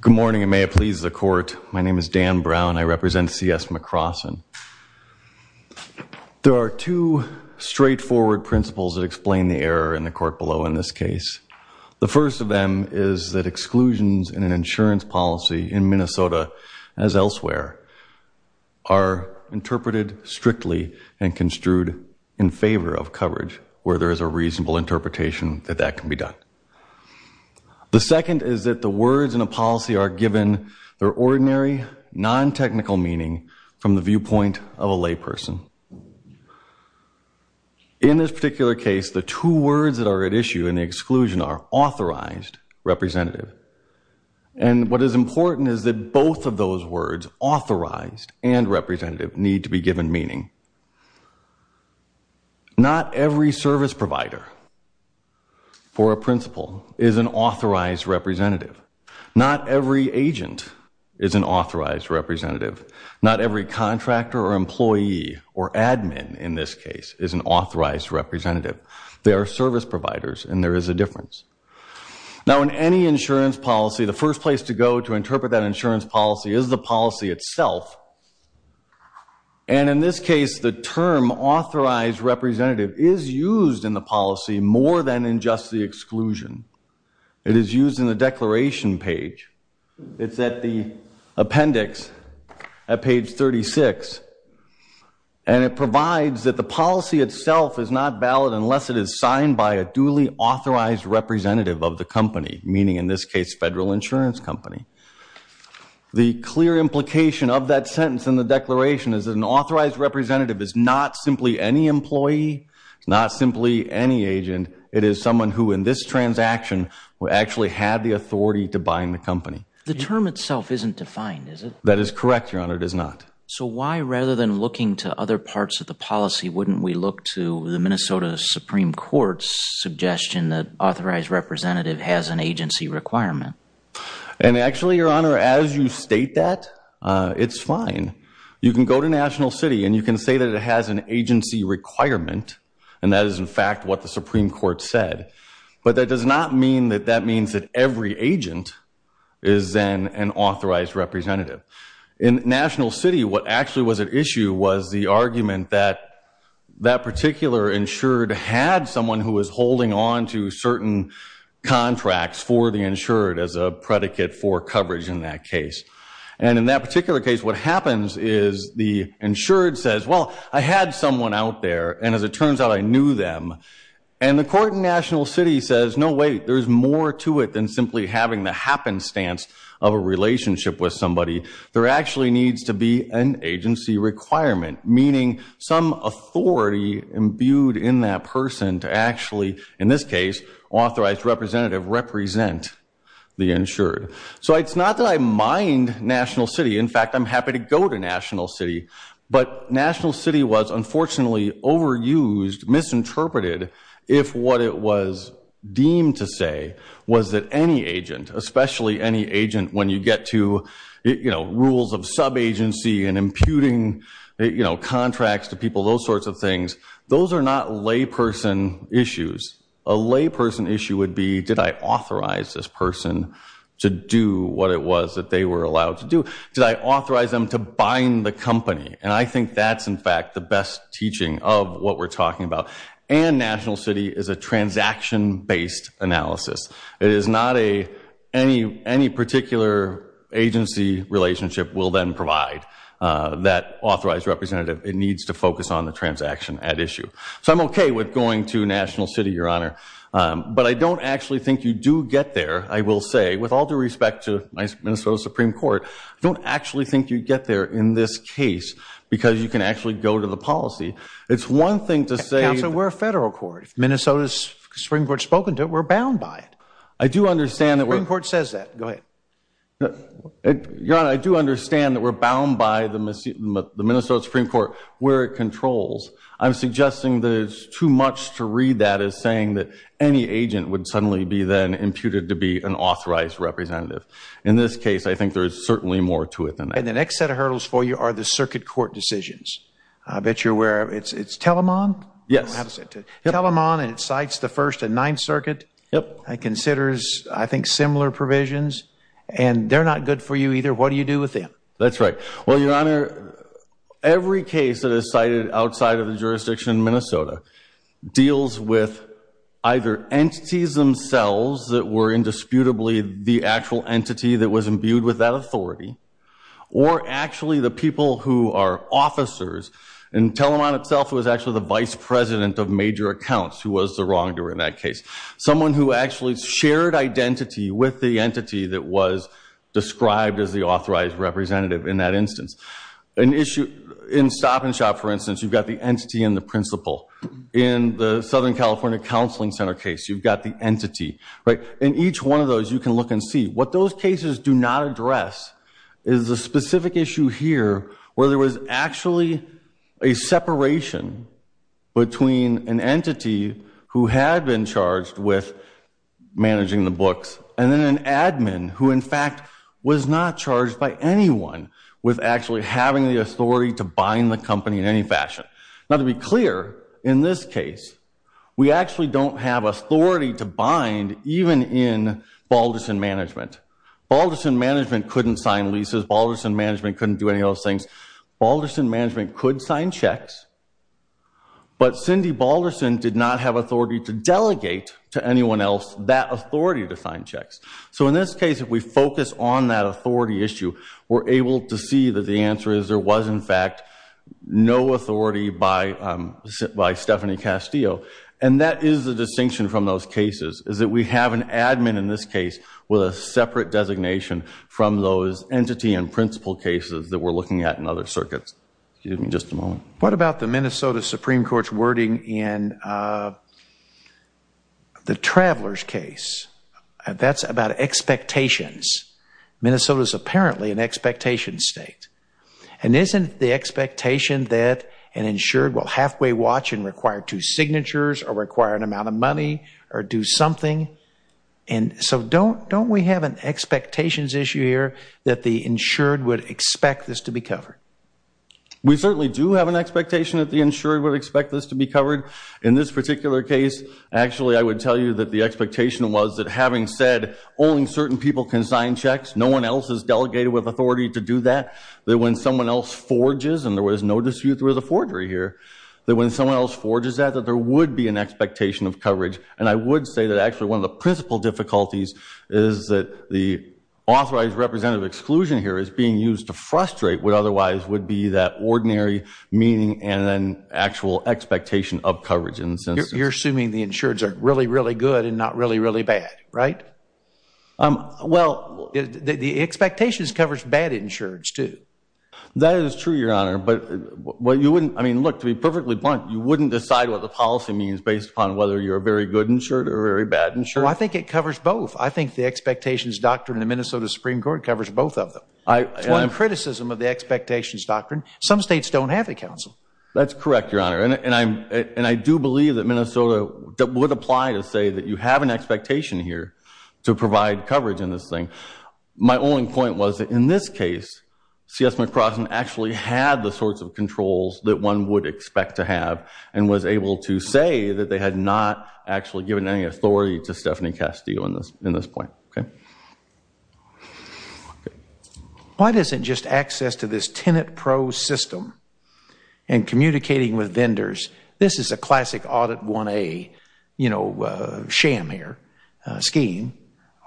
Good morning, and may it please the Court, my name is Dan Brown, I represent C.S. McCrossan. There are two straightforward principles that explain the error in the Court below in this case. The first of them is that exclusions in an insurance policy in Minnesota, as elsewhere, are interpreted strictly and construed in favor of coverage, where there is a reasonable interpretation that that can be done. The second is that the words in a policy are given their ordinary, non-technical meaning from the viewpoint of a layperson. In this particular case, the two words that are at issue in the exclusion are authorized, representative. And what is important is that both of those words, authorized and representative, need to be given meaning. Not every service provider, for a principle, is an authorized representative. Not every agent is an authorized representative. Not every contractor or employee, or admin in this case, is an authorized representative. They are service providers, and there is a difference. Now in any insurance policy, the first place to go to interpret that insurance policy is the policy itself. And in this case, the term authorized representative is used in the policy more than in just the exclusion. It is used in the declaration page. It's at the appendix at page 36. And it provides that the policy itself is not valid unless it is signed by a duly authorized representative of the company, meaning in this case, Federal Insurance Company. The clear implication of that sentence in the declaration is that an authorized representative is not simply any employee, not simply any agent. It is someone who, in this transaction, actually had the authority to bind the company. The term itself isn't defined, is it? That is correct, Your Honor. It is not. So why, rather than looking to other parts of the policy, wouldn't we look to the Minnesota Supreme Court's suggestion that authorized representative has an agency requirement? And actually, Your Honor, as you state that, it's fine. You can go to National City and you can say that it has an agency requirement, and that is in fact what the Supreme Court said. But that does not mean that that means that every agent is then an authorized representative. In National City, what actually was at issue was the argument that that particular insured had someone who was holding on to certain contracts for the insured as a predicate for coverage in that case. And in that particular case, what happens is the insured says, well, I had someone out there, and as it turns out, I knew them. And the court in National City says, no wait, there's more to it than simply having the happenstance of a relationship with somebody. There actually needs to be an agency requirement, meaning some authority imbued in that person to actually, in this case, authorized representative represent the insured. So it's not that I mind National City. If what it was deemed to say was that any agent, especially any agent when you get to rules of sub-agency and imputing contracts to people, those sorts of things, those are not layperson issues. A layperson issue would be, did I authorize this person to do what it was that they were allowed to do? Did I authorize them to bind the company? And I think that's, in fact, the best teaching of what we're talking about. And National City is a transaction-based analysis. It is not any particular agency relationship will then provide that authorized representative. It needs to focus on the transaction at issue. So I'm okay with going to National City, Your Honor. But I don't actually think you do get there. I will say, with all due respect to Minnesota Supreme Court, I don't actually think you get there in this case because you can actually go to the policy. It's one thing to say- Counsel, we're a federal court. Minnesota Supreme Court has spoken to it. We're bound by it. I do understand that we're- The Supreme Court says that. Go ahead. Your Honor, I do understand that we're bound by the Minnesota Supreme Court where it controls. I'm suggesting that it's too much to read that as saying that any agent would suddenly be then imputed to be an authorized representative. In this case, I think there is certainly more to it than that. And the next set of hurdles for you are the circuit court decisions. I bet you're aware of it. It's Telemon? Yes. Telemon, and it cites the First and Ninth Circuit. It considers, I think, similar provisions. And they're not good for you either. What do you do with them? That's right. Well, Your Honor, every case that is cited outside of the jurisdiction in Minnesota deals with either entities themselves that were indisputably the actual entity that was imbued with that authority, or actually the people who are officers. And Telemon himself was actually the vice president of major accounts who was the wrongdoer in that case. Someone who actually shared identity with the entity that was described as the authorized representative in that instance. In Stop and Shop, for instance, you've got the entity and the principal. In the Southern California Counseling Center case, you've got the entity. In each one of those, you can look and see. What those cases do not address is the specific issue here where there was actually a separation between an entity who had been charged with managing the books and then an admin who, in fact, was not charged by anyone with actually having the authority to bind the company in any fashion. Now, to be clear, in this case, we actually don't have authority to bind even in Balderson Management. Balderson Management couldn't sign leases. Balderson Management couldn't do any of those things. Balderson Management could sign checks, but Cindy Balderson did not have authority to delegate to anyone else that authority to sign checks. So in this case, if we focus on that authority issue, we're able to see that the answer is there was, in fact, no authority by Stephanie Castillo. And that is the distinction from those cases, is that we have an admin in this case with a separate designation from those entity and principal cases that we're looking at in other circuits. What about the Minnesota Supreme Court's wording in the Travelers case? That's about expectations. Minnesota's apparently an expectation state. And isn't the expectation that an insured will halfway watch and require two signatures or require an amount of money or do something? And so don't we have an expectations issue here that the insured would expect this to be covered? We certainly do have an expectation that the insured would expect this to be covered. In this particular case, actually, I would tell you that the expectation was that having said only certain people can sign checks, no one else is delegated with authority to do that, that when someone else forges, and there was no dispute through the forgery here, that when someone else forges that, that there would be an expectation of coverage. And I would say that actually one of the principal difficulties is that the authorized representative exclusion here is being used to frustrate what otherwise would be that ordinary meaning and then actual expectation of coverage. You're assuming the insureds are really, really good and not really, really bad, right? Well, the expectations covers bad insureds too. That is true, Your Honor. I mean, look, to be perfectly blunt, you wouldn't decide what the policy means based upon whether you're a very good insured or a very bad insured? Well, I think it covers both. I think the expectations doctrine in the Minnesota Supreme Court covers both of them. It's one of the criticisms of the expectations doctrine. Some states don't have a council. That's correct, Your Honor. And I do believe that Minnesota would apply to say that you have an expectation here to provide coverage in this thing. My only point was that in this case, C.S. McCrossin actually had the sorts of controls that one would expect to have and was able to say that they had not actually given any authority to Stephanie Castillo in this point, okay? Why isn't just access to this Tenet Pro system and communicating with vendors, this is a classic Audit 1A, you know, sham here, scheme.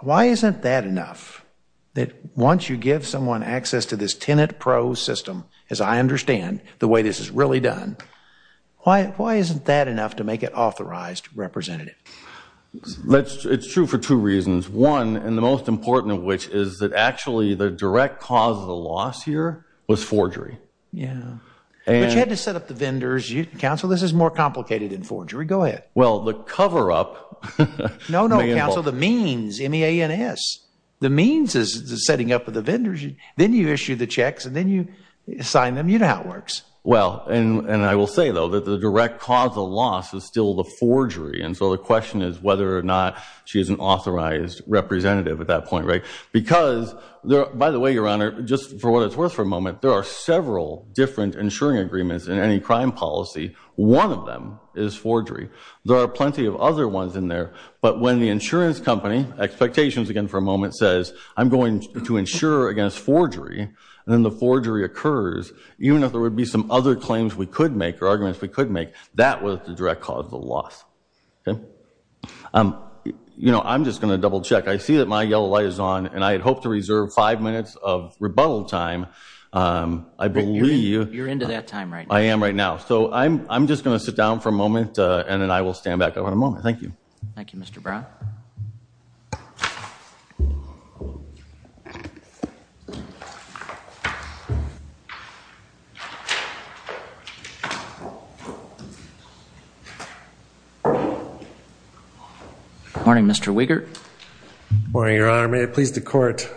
Why isn't that enough? That once you give someone access to this Tenet Pro system, as I understand, the way this is really done, why isn't that enough to make it authorized representative? It's true for two reasons. One, and the most important of which is that actually the direct cause of the loss here was forgery. Yeah. But you had to set up the vendors. Counsel, this is more complicated than forgery. Go ahead. Well, the cover-up. No, no, Counsel. The means, M-E-A-N-S. The means is the setting up of the vendors. Then you issue the checks, and then you sign them. You know how it works. Well, and I will say, though, that the direct cause of loss is still the forgery. And so the question is whether or not she is an authorized representative at that point, right? Because, by the way, Your Honor, just for what it's worth for a moment, there are several different insuring agreements in any crime policy. One of them is forgery. There are plenty of other ones in there. But when the insurance company, expectations again for a moment, says, I'm going to insure against forgery, and then the forgery occurs, even if there would be some other claims we could make or arguments we could make, that was the direct cause of the loss. Okay? You know, I'm just going to double-check. I see that my yellow light is on, and I had hoped to reserve five minutes of rebuttal time. I believe you're into that time right now. I am right now. So I'm just going to sit down for a moment, and then I will stand back up in a moment. Thank you. Thank you, Mr. Brown. Good morning, Mr. Wiegert. Good morning, Your Honor. May it please the Court,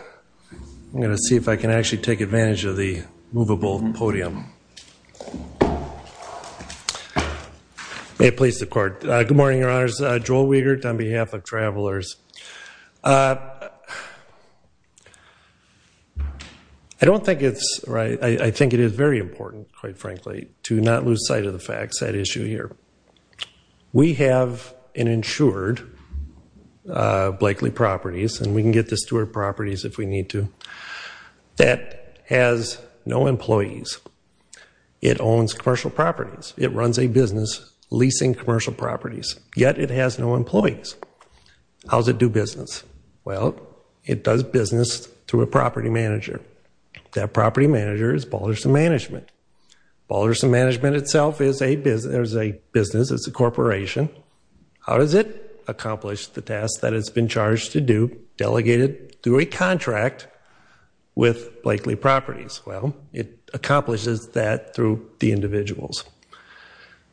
I'm going to see if I can actually take advantage of the movable podium. May it please the Court. Good morning, Your Honors. Joel Wiegert on behalf of Travelers. I don't think it's right. I think it is very important, quite frankly, to not lose sight of the facts, that issue here. We have an insured, Blakely Properties, and we can get this to our properties if we need to, that has no employees. It owns commercial properties. It runs a business leasing commercial properties, yet it has no employees. How does it do business? Well, it does business through a property manager. That property manager is Balderson Management. Balderson Management itself is a business. It's a corporation. How does it accomplish the task that it's been charged to do, delegated through a contract with Blakely Properties? Well, it accomplishes that through the individuals.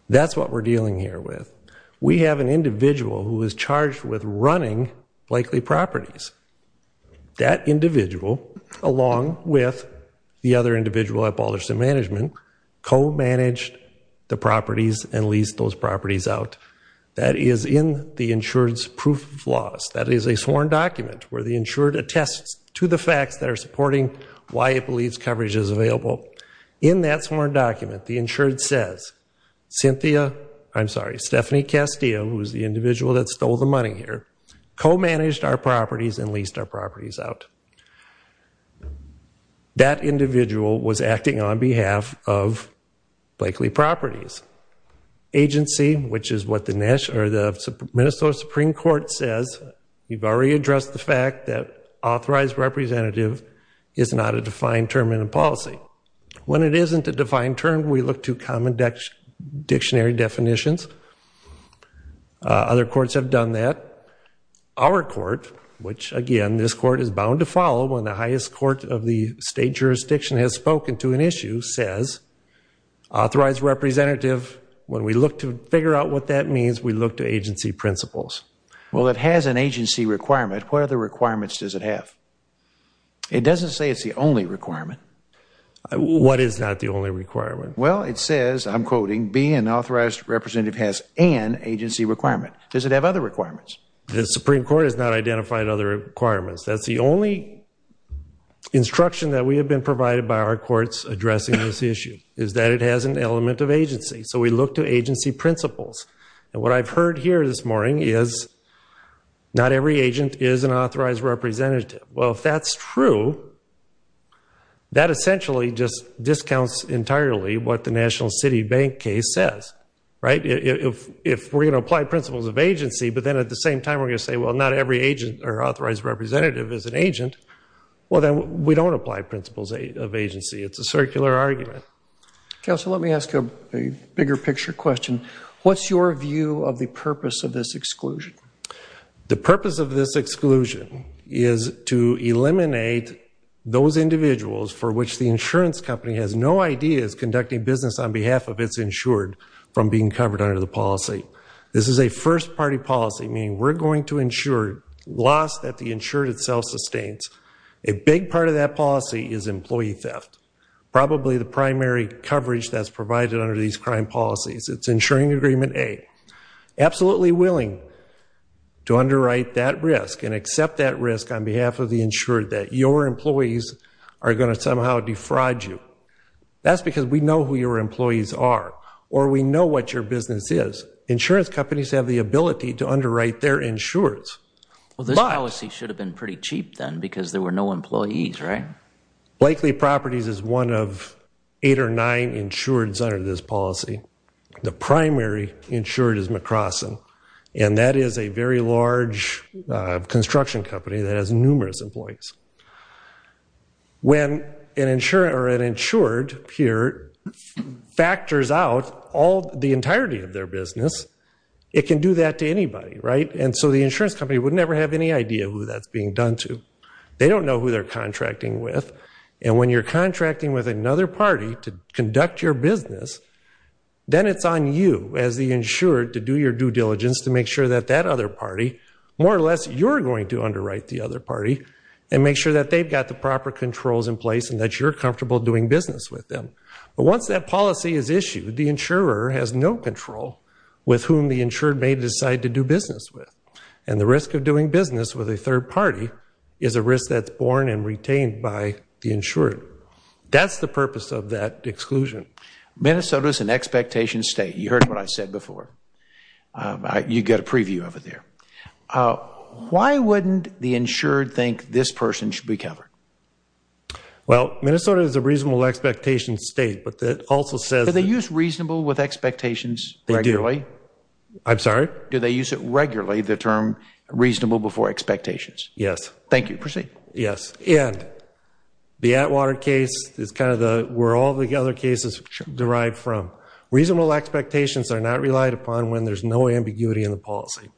That's what we're dealing here with. We have an individual who is charged with running Blakely Properties. That individual, along with the other individual at Balderson Management, co-managed the properties and leased those properties out. That is in the insured's proof of loss. That is a sworn document where the insured attests to the facts that are supporting why it believes coverage is available. In that sworn document, the insured says, I'm sorry, Stephanie Castillo, who is the individual that stole the money here, co-managed our properties and leased our properties out. That individual was acting on behalf of Blakely Properties. Agency, which is what the Minnesota Supreme Court says, we've already addressed the fact that authorized representative is not a defined term in a policy. When it isn't a defined term, we look to common dictionary definitions. Other courts have done that. Our court, which again, this court is bound to follow, when the highest court of the state jurisdiction has spoken to an issue, says authorized representative, when we look to figure out what that means, we look to agency principles. Well, it has an agency requirement. What other requirements does it have? It doesn't say it's the only requirement. What is not the only requirement? Well, it says, I'm quoting, being an authorized representative has an agency requirement. Does it have other requirements? The Supreme Court has not identified other requirements. That's the only instruction that we have been provided by our courts addressing this issue, is that it has an element of agency. So we look to agency principles. And what I've heard here this morning is not every agent is an authorized representative. Well, if that's true, that essentially just discounts entirely what the National City Bank case says, right? If we're going to apply principles of agency, but then at the same time we're going to say, well, not every agent or authorized representative is an agent, well, then we don't apply principles of agency. It's a circular argument. Counsel, let me ask a bigger picture question. What's your view of the purpose of this exclusion? The purpose of this exclusion is to eliminate those individuals for which the insurance company has no idea is conducting business on behalf of its insured from being covered under the policy. This is a first-party policy, meaning we're going to insure loss that the insured itself sustains. A big part of that policy is employee theft, probably the primary coverage that's provided under these crime policies. It's insuring agreement A. Absolutely willing to underwrite that risk and accept that risk on behalf of the insured that your employees are going to somehow defraud you. That's because we know who your employees are or we know what your business is. Insurance companies have the ability to underwrite their insureds. Well, this policy should have been pretty cheap then because there were no employees, right? Blakely Properties is one of eight or nine insureds under this policy. The primary insured is McCrossin, and that is a very large construction company that has numerous employees. When an insured here factors out the entirety of their business, it can do that to anybody, right? And so the insurance company would never have any idea who that's being done to. They don't know who they're contracting with, and when you're contracting with another party to conduct your business, then it's on you as the insured to do your due diligence to make sure that that other party, more or less, you're going to underwrite the other party and make sure that they've got the proper controls in place and that you're comfortable doing business with them. But once that policy is issued, the insurer has no control with whom the insured may decide to do business with, and the risk of doing business with a third party is a risk that's borne and retained by the insured. That's the purpose of that exclusion. Minnesota's an expectation state. You heard what I said before. You got a preview of it there. Why wouldn't the insured think this person should be covered? Well, Minnesota is a reasonable expectation state, but that also says that... Do they use reasonable with expectations regularly? They do. I'm sorry? Do they use it regularly, the term reasonable before expectations? Yes. Thank you. Proceed. Yes. And the Atwater case is kind of where all the other cases derive from. Reasonable expectations are not relied upon when there's no ambiguity in the policy.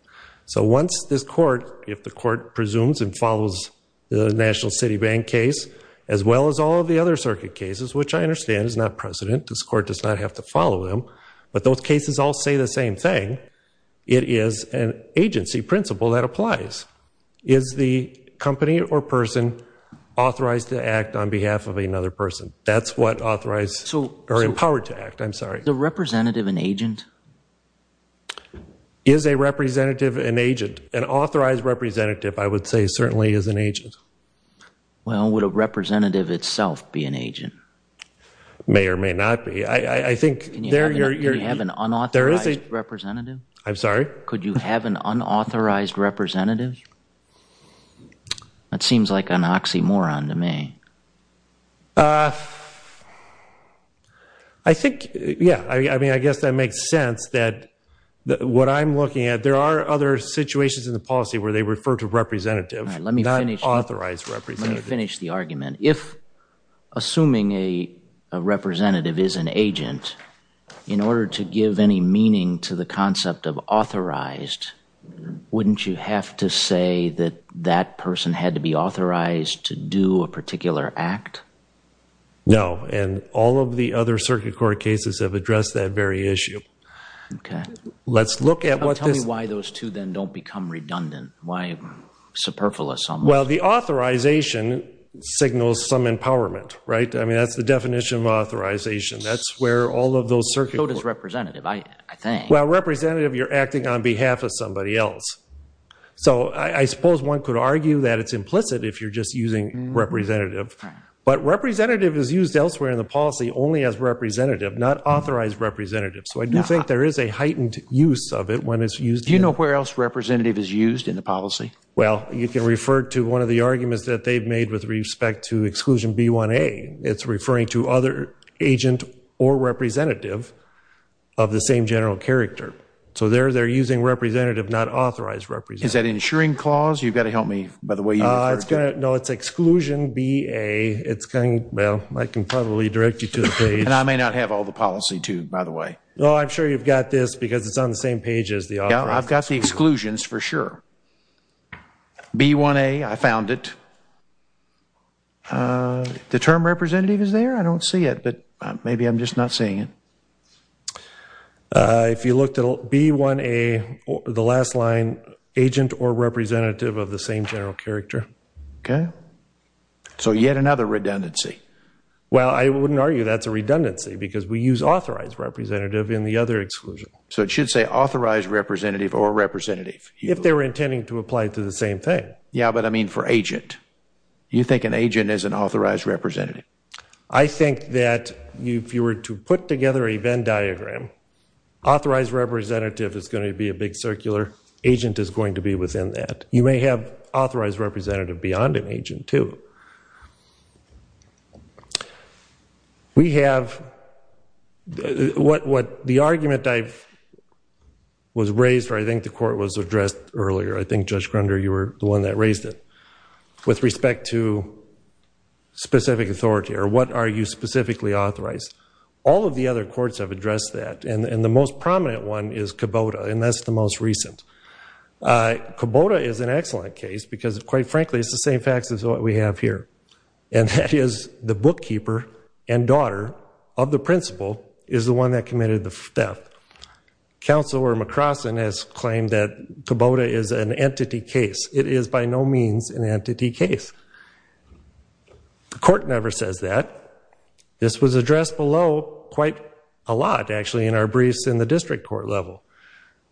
So once this court, if the court presumes and follows the National City Bank case, as well as all of the other circuit cases, which I understand is not precedent, this court does not have to follow them, but those cases all say the same thing. It is an agency principle that applies. Is the company or person authorized to act on behalf of another person? That's what authorized or empowered to act. I'm sorry. Is the representative an agent? Is a representative an agent? An authorized representative, I would say, certainly is an agent. Well, would a representative itself be an agent? May or may not be. Could you have an unauthorized representative? I'm sorry? Could you have an unauthorized representative? That seems like an oxymoron to me. I think, yeah, I mean, I guess that makes sense that what I'm looking at, there are other situations in the policy where they refer to representative, not authorized representative. Let me finish the argument. If assuming a representative is an agent, in order to give any meaning to the concept of authorized, wouldn't you have to say that that person had to be authorized to do a particular act? No. And all of the other circuit court cases have addressed that very issue. Okay. Let's look at what this. Tell me why those two then don't become redundant. Why superfluous almost? Well, the authorization signals some empowerment, right? I mean, that's the definition of authorization. That's where all of those circuit courts. So does representative, I think. Well, representative, you're acting on behalf of somebody else. So I suppose one could argue that it's implicit if you're just using representative. But representative is used elsewhere in the policy only as representative, not authorized representative. So I do think there is a heightened use of it when it's used. Do you know where else representative is used in the policy? Well, you can refer to one of the arguments that they've made with respect to exclusion B1A. It's referring to other agent or representative of the same general character. So they're using representative, not authorized representative. Is that insuring clause? You've got to help me by the way. No, it's exclusion BA. It's kind of, well, I can probably direct you to the page. And I may not have all the policy too, by the way. No, I'm sure you've got this because it's on the same page as the author. Yeah, I've got the exclusions for sure. B1A, I found it. The term representative is there? I don't see it, but maybe I'm just not seeing it. If you looked at B1A, the last line, agent or representative of the same general character. Okay. So yet another redundancy. Well, I wouldn't argue that's a redundancy because we use authorized representative in the other exclusion. So it should say authorized representative or representative. If they were intending to apply to the same thing. Yeah, but I mean for agent. You think an agent is an authorized representative? I think that if you were to put together a Venn diagram, authorized representative is going to be a big circular. Agent is going to be within that. You may have authorized representative beyond an agent too. We have, what the argument I've, was raised, or I think the court was addressed earlier. I think Judge Grunder, you were the one that raised it. With respect to specific authority, or what are you specifically authorized? All of the other courts have addressed that. And the most prominent one is Kubota. And that's the most recent. Kubota is an excellent case because quite frankly, it's the same facts as what we have here. And that is the bookkeeper and daughter of the principal is the one that committed the theft. Counselor McCrossin has claimed that Kubota is an entity case. It is by no means an entity case. The court never says that. This was addressed below quite a lot, actually, in our briefs in the district court level.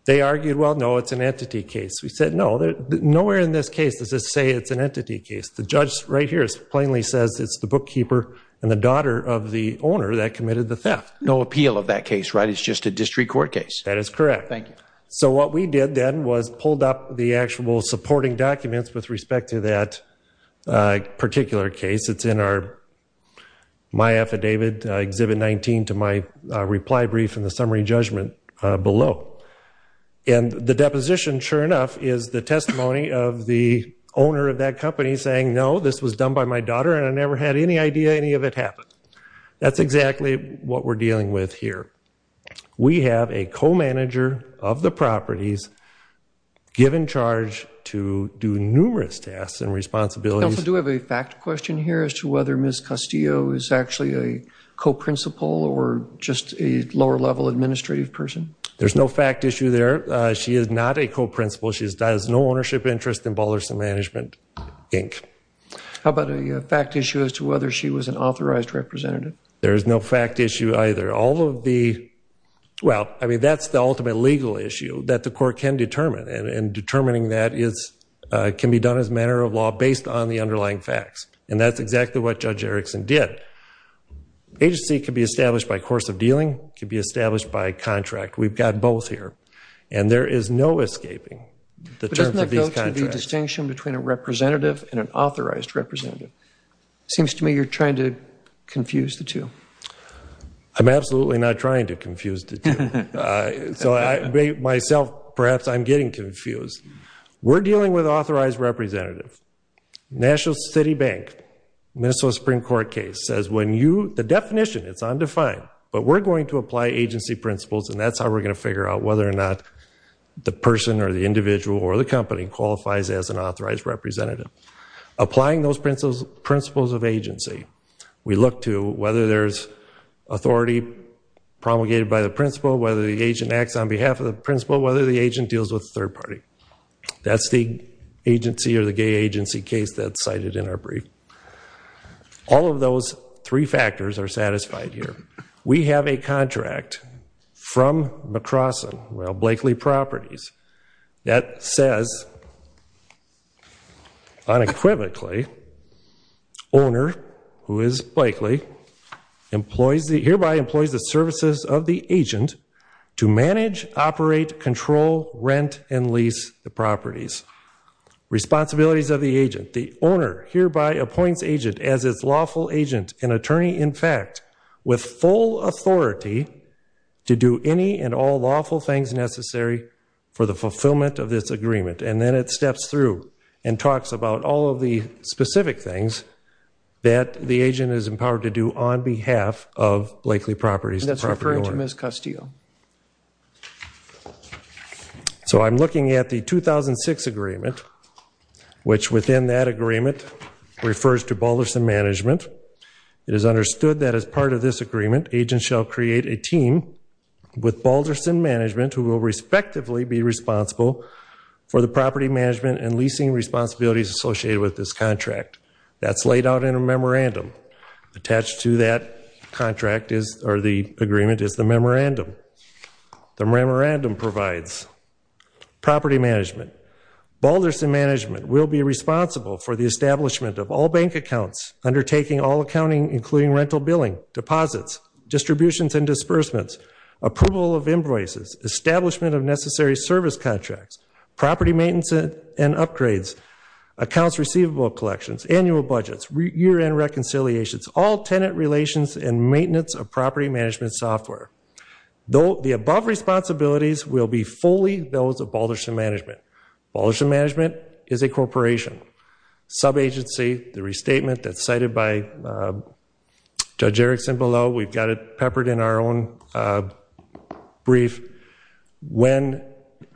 They argued, well, no, it's an entity case. We said no. Nowhere in this case does it say it's an entity case. The judge right here plainly says it's the bookkeeper and the daughter of the owner that committed the theft. No appeal of that case, right? It's just a district court case. That is correct. Thank you. So what we did then was pulled up the actual supporting documents with respect to that particular case. It's in my affidavit, Exhibit 19, to my reply brief in the summary judgment below. And the deposition, sure enough, is the testimony of the owner of that company saying, no, this was done by my daughter, and I never had any idea any of it happened. That's exactly what we're dealing with here. We have a co-manager of the properties given charge to do numerous tasks and responsibilities. Counsel, do we have a fact question here as to whether Ms. Castillo is actually a co-principal or just a lower-level administrative person? There's no fact issue there. She is not a co-principal. She has no ownership interest in Balderson Management, Inc. How about a fact issue as to whether she was an authorized representative? There is no fact issue either. All of the, well, I mean, that's the ultimate legal issue that the court can determine, and determining that can be done as a matter of law based on the underlying facts. And that's exactly what Judge Erickson did. Agency could be established by course of dealing, could be established by contract. We've got both here. And there is no escaping the terms of these contracts. But doesn't that go to the distinction between a representative and an authorized representative? It seems to me you're trying to confuse the two. I'm absolutely not trying to confuse the two. So I, myself, perhaps I'm getting confused. We're dealing with authorized representative. National City Bank, Minnesota Supreme Court case, says when you, the definition, it's undefined, but we're going to apply agency principles and that's how we're going to figure out whether or not the person or the individual or the company qualifies as an authorized representative. Applying those principles of agency, we look to whether there's authority promulgated by the principal, whether the agent acts on behalf of the principal, whether the agent deals with the third party. That's the agency or the gay agency case that's cited in our brief. All of those three factors are satisfied here. We have a contract from McCrossin, well, Blakely Properties, that says unequivocally, owner, who is Blakely, hereby employs the services of the agent to manage, operate, control, rent, and lease the properties. Responsibilities of the agent, the owner hereby appoints agent as its lawful agent and attorney, in fact, with full authority to do any and all lawful things necessary for the fulfillment of this agreement. And then it steps through and talks about all of the specific things that the agent is empowered to do on behalf of Blakely Properties, the property owner. And that's referring to Ms. Castillo. So I'm looking at the 2006 agreement, which within that agreement refers to Balderson Management. It is understood that as part of this agreement, agents shall create a team with Balderson Management who will respectively be responsible for the property management and leasing responsibilities associated with this contract. That's laid out in a memorandum. Attached to that contract is, or the agreement, is the memorandum. The memorandum provides property management. Balderson Management will be responsible for the establishment of all bank accounts undertaking all accounting, including rental billing, deposits, distributions and disbursements, approval of invoices, establishment of necessary service contracts, property maintenance and upgrades, accounts receivable collections, annual budgets, year-end reconciliations, all tenant relations and maintenance of property management software. The above responsibilities will be fully those of Balderson Management. Balderson Management is a corporation. Sub-agency, the restatement that's cited by Judge Erickson below, we've got it peppered in our own brief. When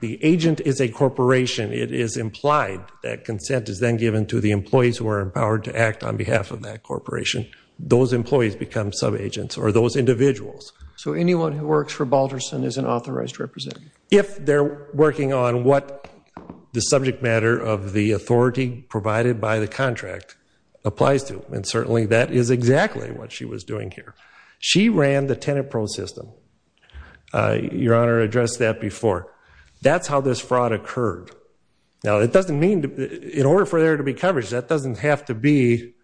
the agent is a corporation, it is implied that consent is then given to the employees who are empowered to act on behalf of that corporation. Those employees become sub-agents or those individuals. So anyone who works for Balderson is an authorized representative? If they're working on what the subject matter of the authority provided by the contract applies to, and certainly that is exactly what she was doing here. She ran the tenant pro system. Your Honor addressed that before. That's how this fraud occurred. Now, it doesn't mean, in order for there to be coverage, that doesn't have to be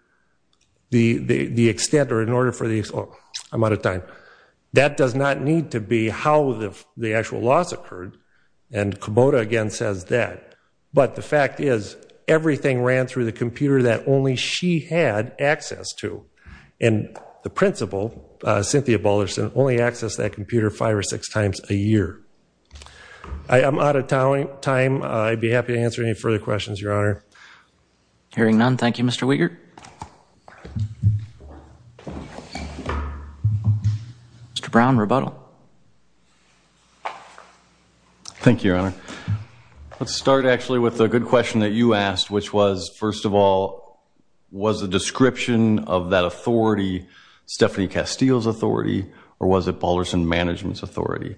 the extent or in order for the, oh, I'm out of time. That does not need to be how the actual loss occurred. And Kubota again says that. But the fact is, everything ran through the computer that only she had access to. And the principal, Cynthia Balderson, only accessed that computer five or six times a year. I'm out of time. I'd be happy to answer any further questions, Your Honor. Hearing none. Thank you, Mr. Wiegert. Mr. Brown, rebuttal. Thank you, Your Honor. Let's start actually with a good question that you asked, which was, first of all, was the description of that authority Stephanie Castillo's authority or was it Balderson Management's authority?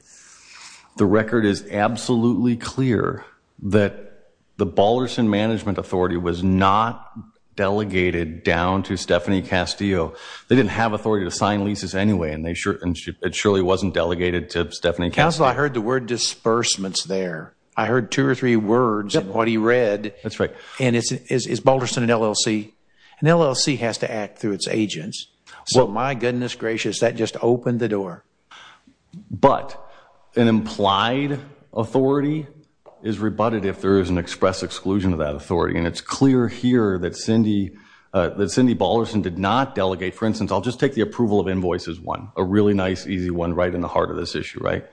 The record is absolutely clear that the Balderson Management authority was not delegated down to Stephanie Castillo. They didn't have authority to sign leases anyway, and it surely wasn't delegated to Stephanie Castillo. Counsel, I heard the word disbursements there. I heard two or three words in what he read. That's right. And is Balderson an LLC? An LLC has to act through its agents. So my goodness gracious, that just opened the door. But an implied authority is rebutted if there is an express exclusion of that authority. And it's clear here that Cindy Balderson did not delegate. For instance, I'll just take the approval of invoices one, a really nice easy one right in the heart of this issue, right?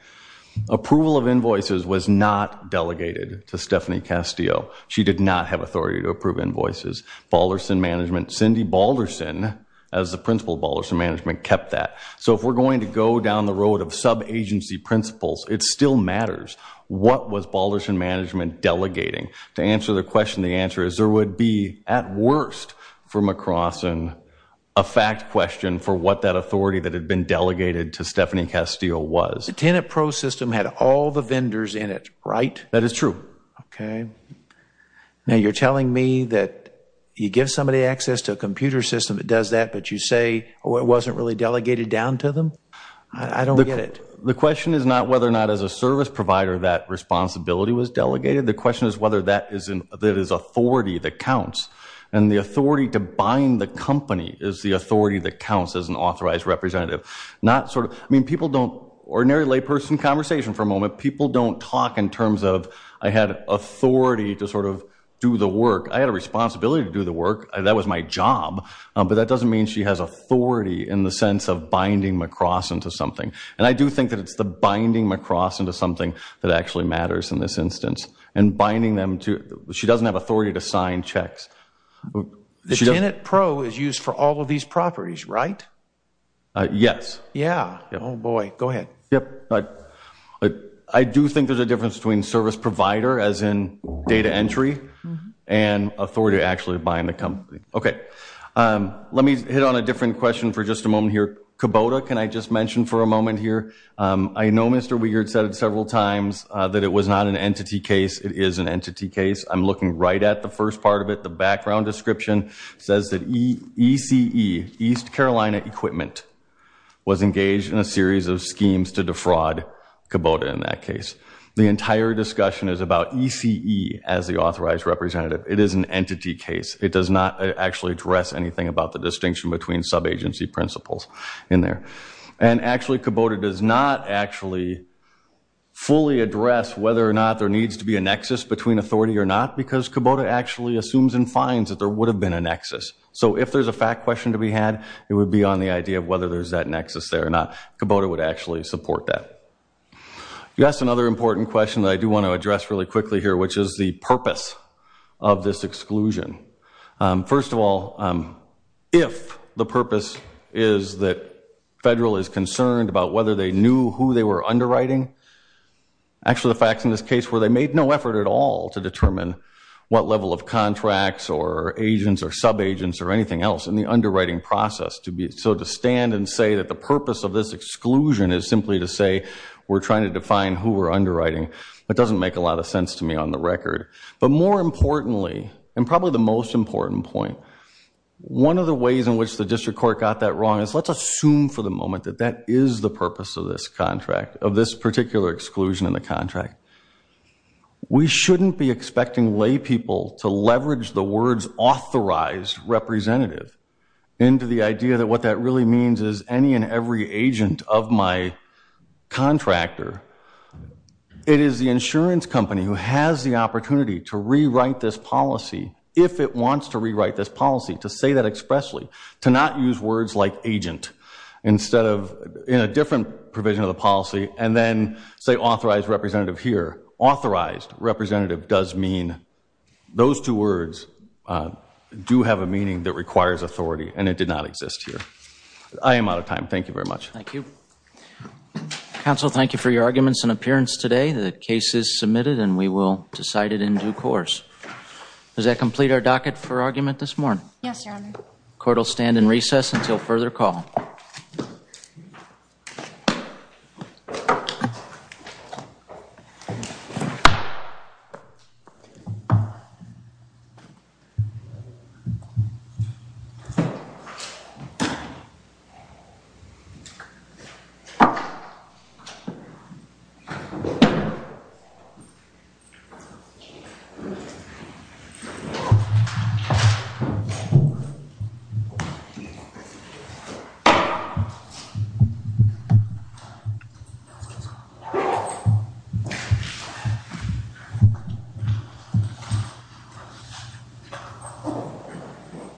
Approval of invoices was not delegated to Stephanie Castillo. She did not have authority to approve invoices. Balderson Management, Cindy Balderson, as the principal of Balderson Management, kept that. So if we're going to go down the road of sub-agency principles, it still matters. What was Balderson Management delegating? To answer the question, the answer is there would be, at worst for McCrossin, a fact question for what that authority that had been delegated to Stephanie Castillo was. The TenantPro system had all the vendors in it, right? That is true. Okay. Now you're telling me that you give somebody access to a computer system that does that, but you say it wasn't really delegated down to them? I don't get it. The question is not whether or not as a service provider that responsibility was delegated. And the authority to bind the company is the authority that counts as an authorized representative. Not sort of, I mean, people don't, ordinary layperson conversation for a moment, people don't talk in terms of, I had authority to sort of do the work. I had a responsibility to do the work. That was my job. But that doesn't mean she has authority in the sense of binding McCrossin to something. And I do think that it's the binding McCrossin to something that actually matters in this instance. And binding them to, she doesn't have authority to sign checks. The Tenet Pro is used for all of these properties, right? Yes. Yeah. Oh boy. Go ahead. Yep. I do think there's a difference between service provider, as in data entry, and authority to actually bind the company. Okay. Let me hit on a different question for just a moment here. Kubota, can I just mention for a moment here, I know Mr. Weigert said it several times that it was not an entity case. It is an entity case. I'm looking right at the first part of it. The background description says that ECE, East Carolina Equipment, was engaged in a series of schemes to defraud Kubota in that case. The entire discussion is about ECE as the authorized representative. It is an entity case. It does not actually address anything about the distinction between sub-agency principles in there. And actually, Kubota does not actually fully address whether or not there needs to be a nexus between authority or not, because Kubota actually assumes and finds that there would have been a nexus. So if there's a fact question to be had, it would be on the idea of whether there's that nexus there or not. Kubota would actually support that. You asked another important question that I do want to address really quickly here, which is the purpose of this exclusion. First of all, if the purpose is that federal is concerned about whether they knew who they were underwriting, actually the facts in this case were they made no effort at all to determine what level of contracts or agents or sub-agents or anything else in the underwriting process. So to stand and say that the purpose of this exclusion is simply to say we're trying to define who we're underwriting, that doesn't make a lot of sense to me on the record. But more importantly, and probably the most important point, one of the ways in which the district court got that wrong is let's assume for the moment that that is the purpose of this contract, of this particular exclusion in the contract. We shouldn't be expecting lay people to leverage the words authorized representative into the idea that what that really means is any and every agent of my contractor. It is the insurance company who has the opportunity to rewrite this policy if it wants to rewrite this policy, to say that expressly, to not use words like agent in a different provision of the policy and then say authorized representative here. Authorized representative does mean those two words do have a meaning that requires authority and it did not exist here. I am out of time. Thank you very much. Thank you. Counsel, thank you for your arguments and appearance today. The case is submitted and we will decide it in due course. Does that complete our docket for argument this morning? Yes, Your Honor. Court will stand in recess until further call. Thank you.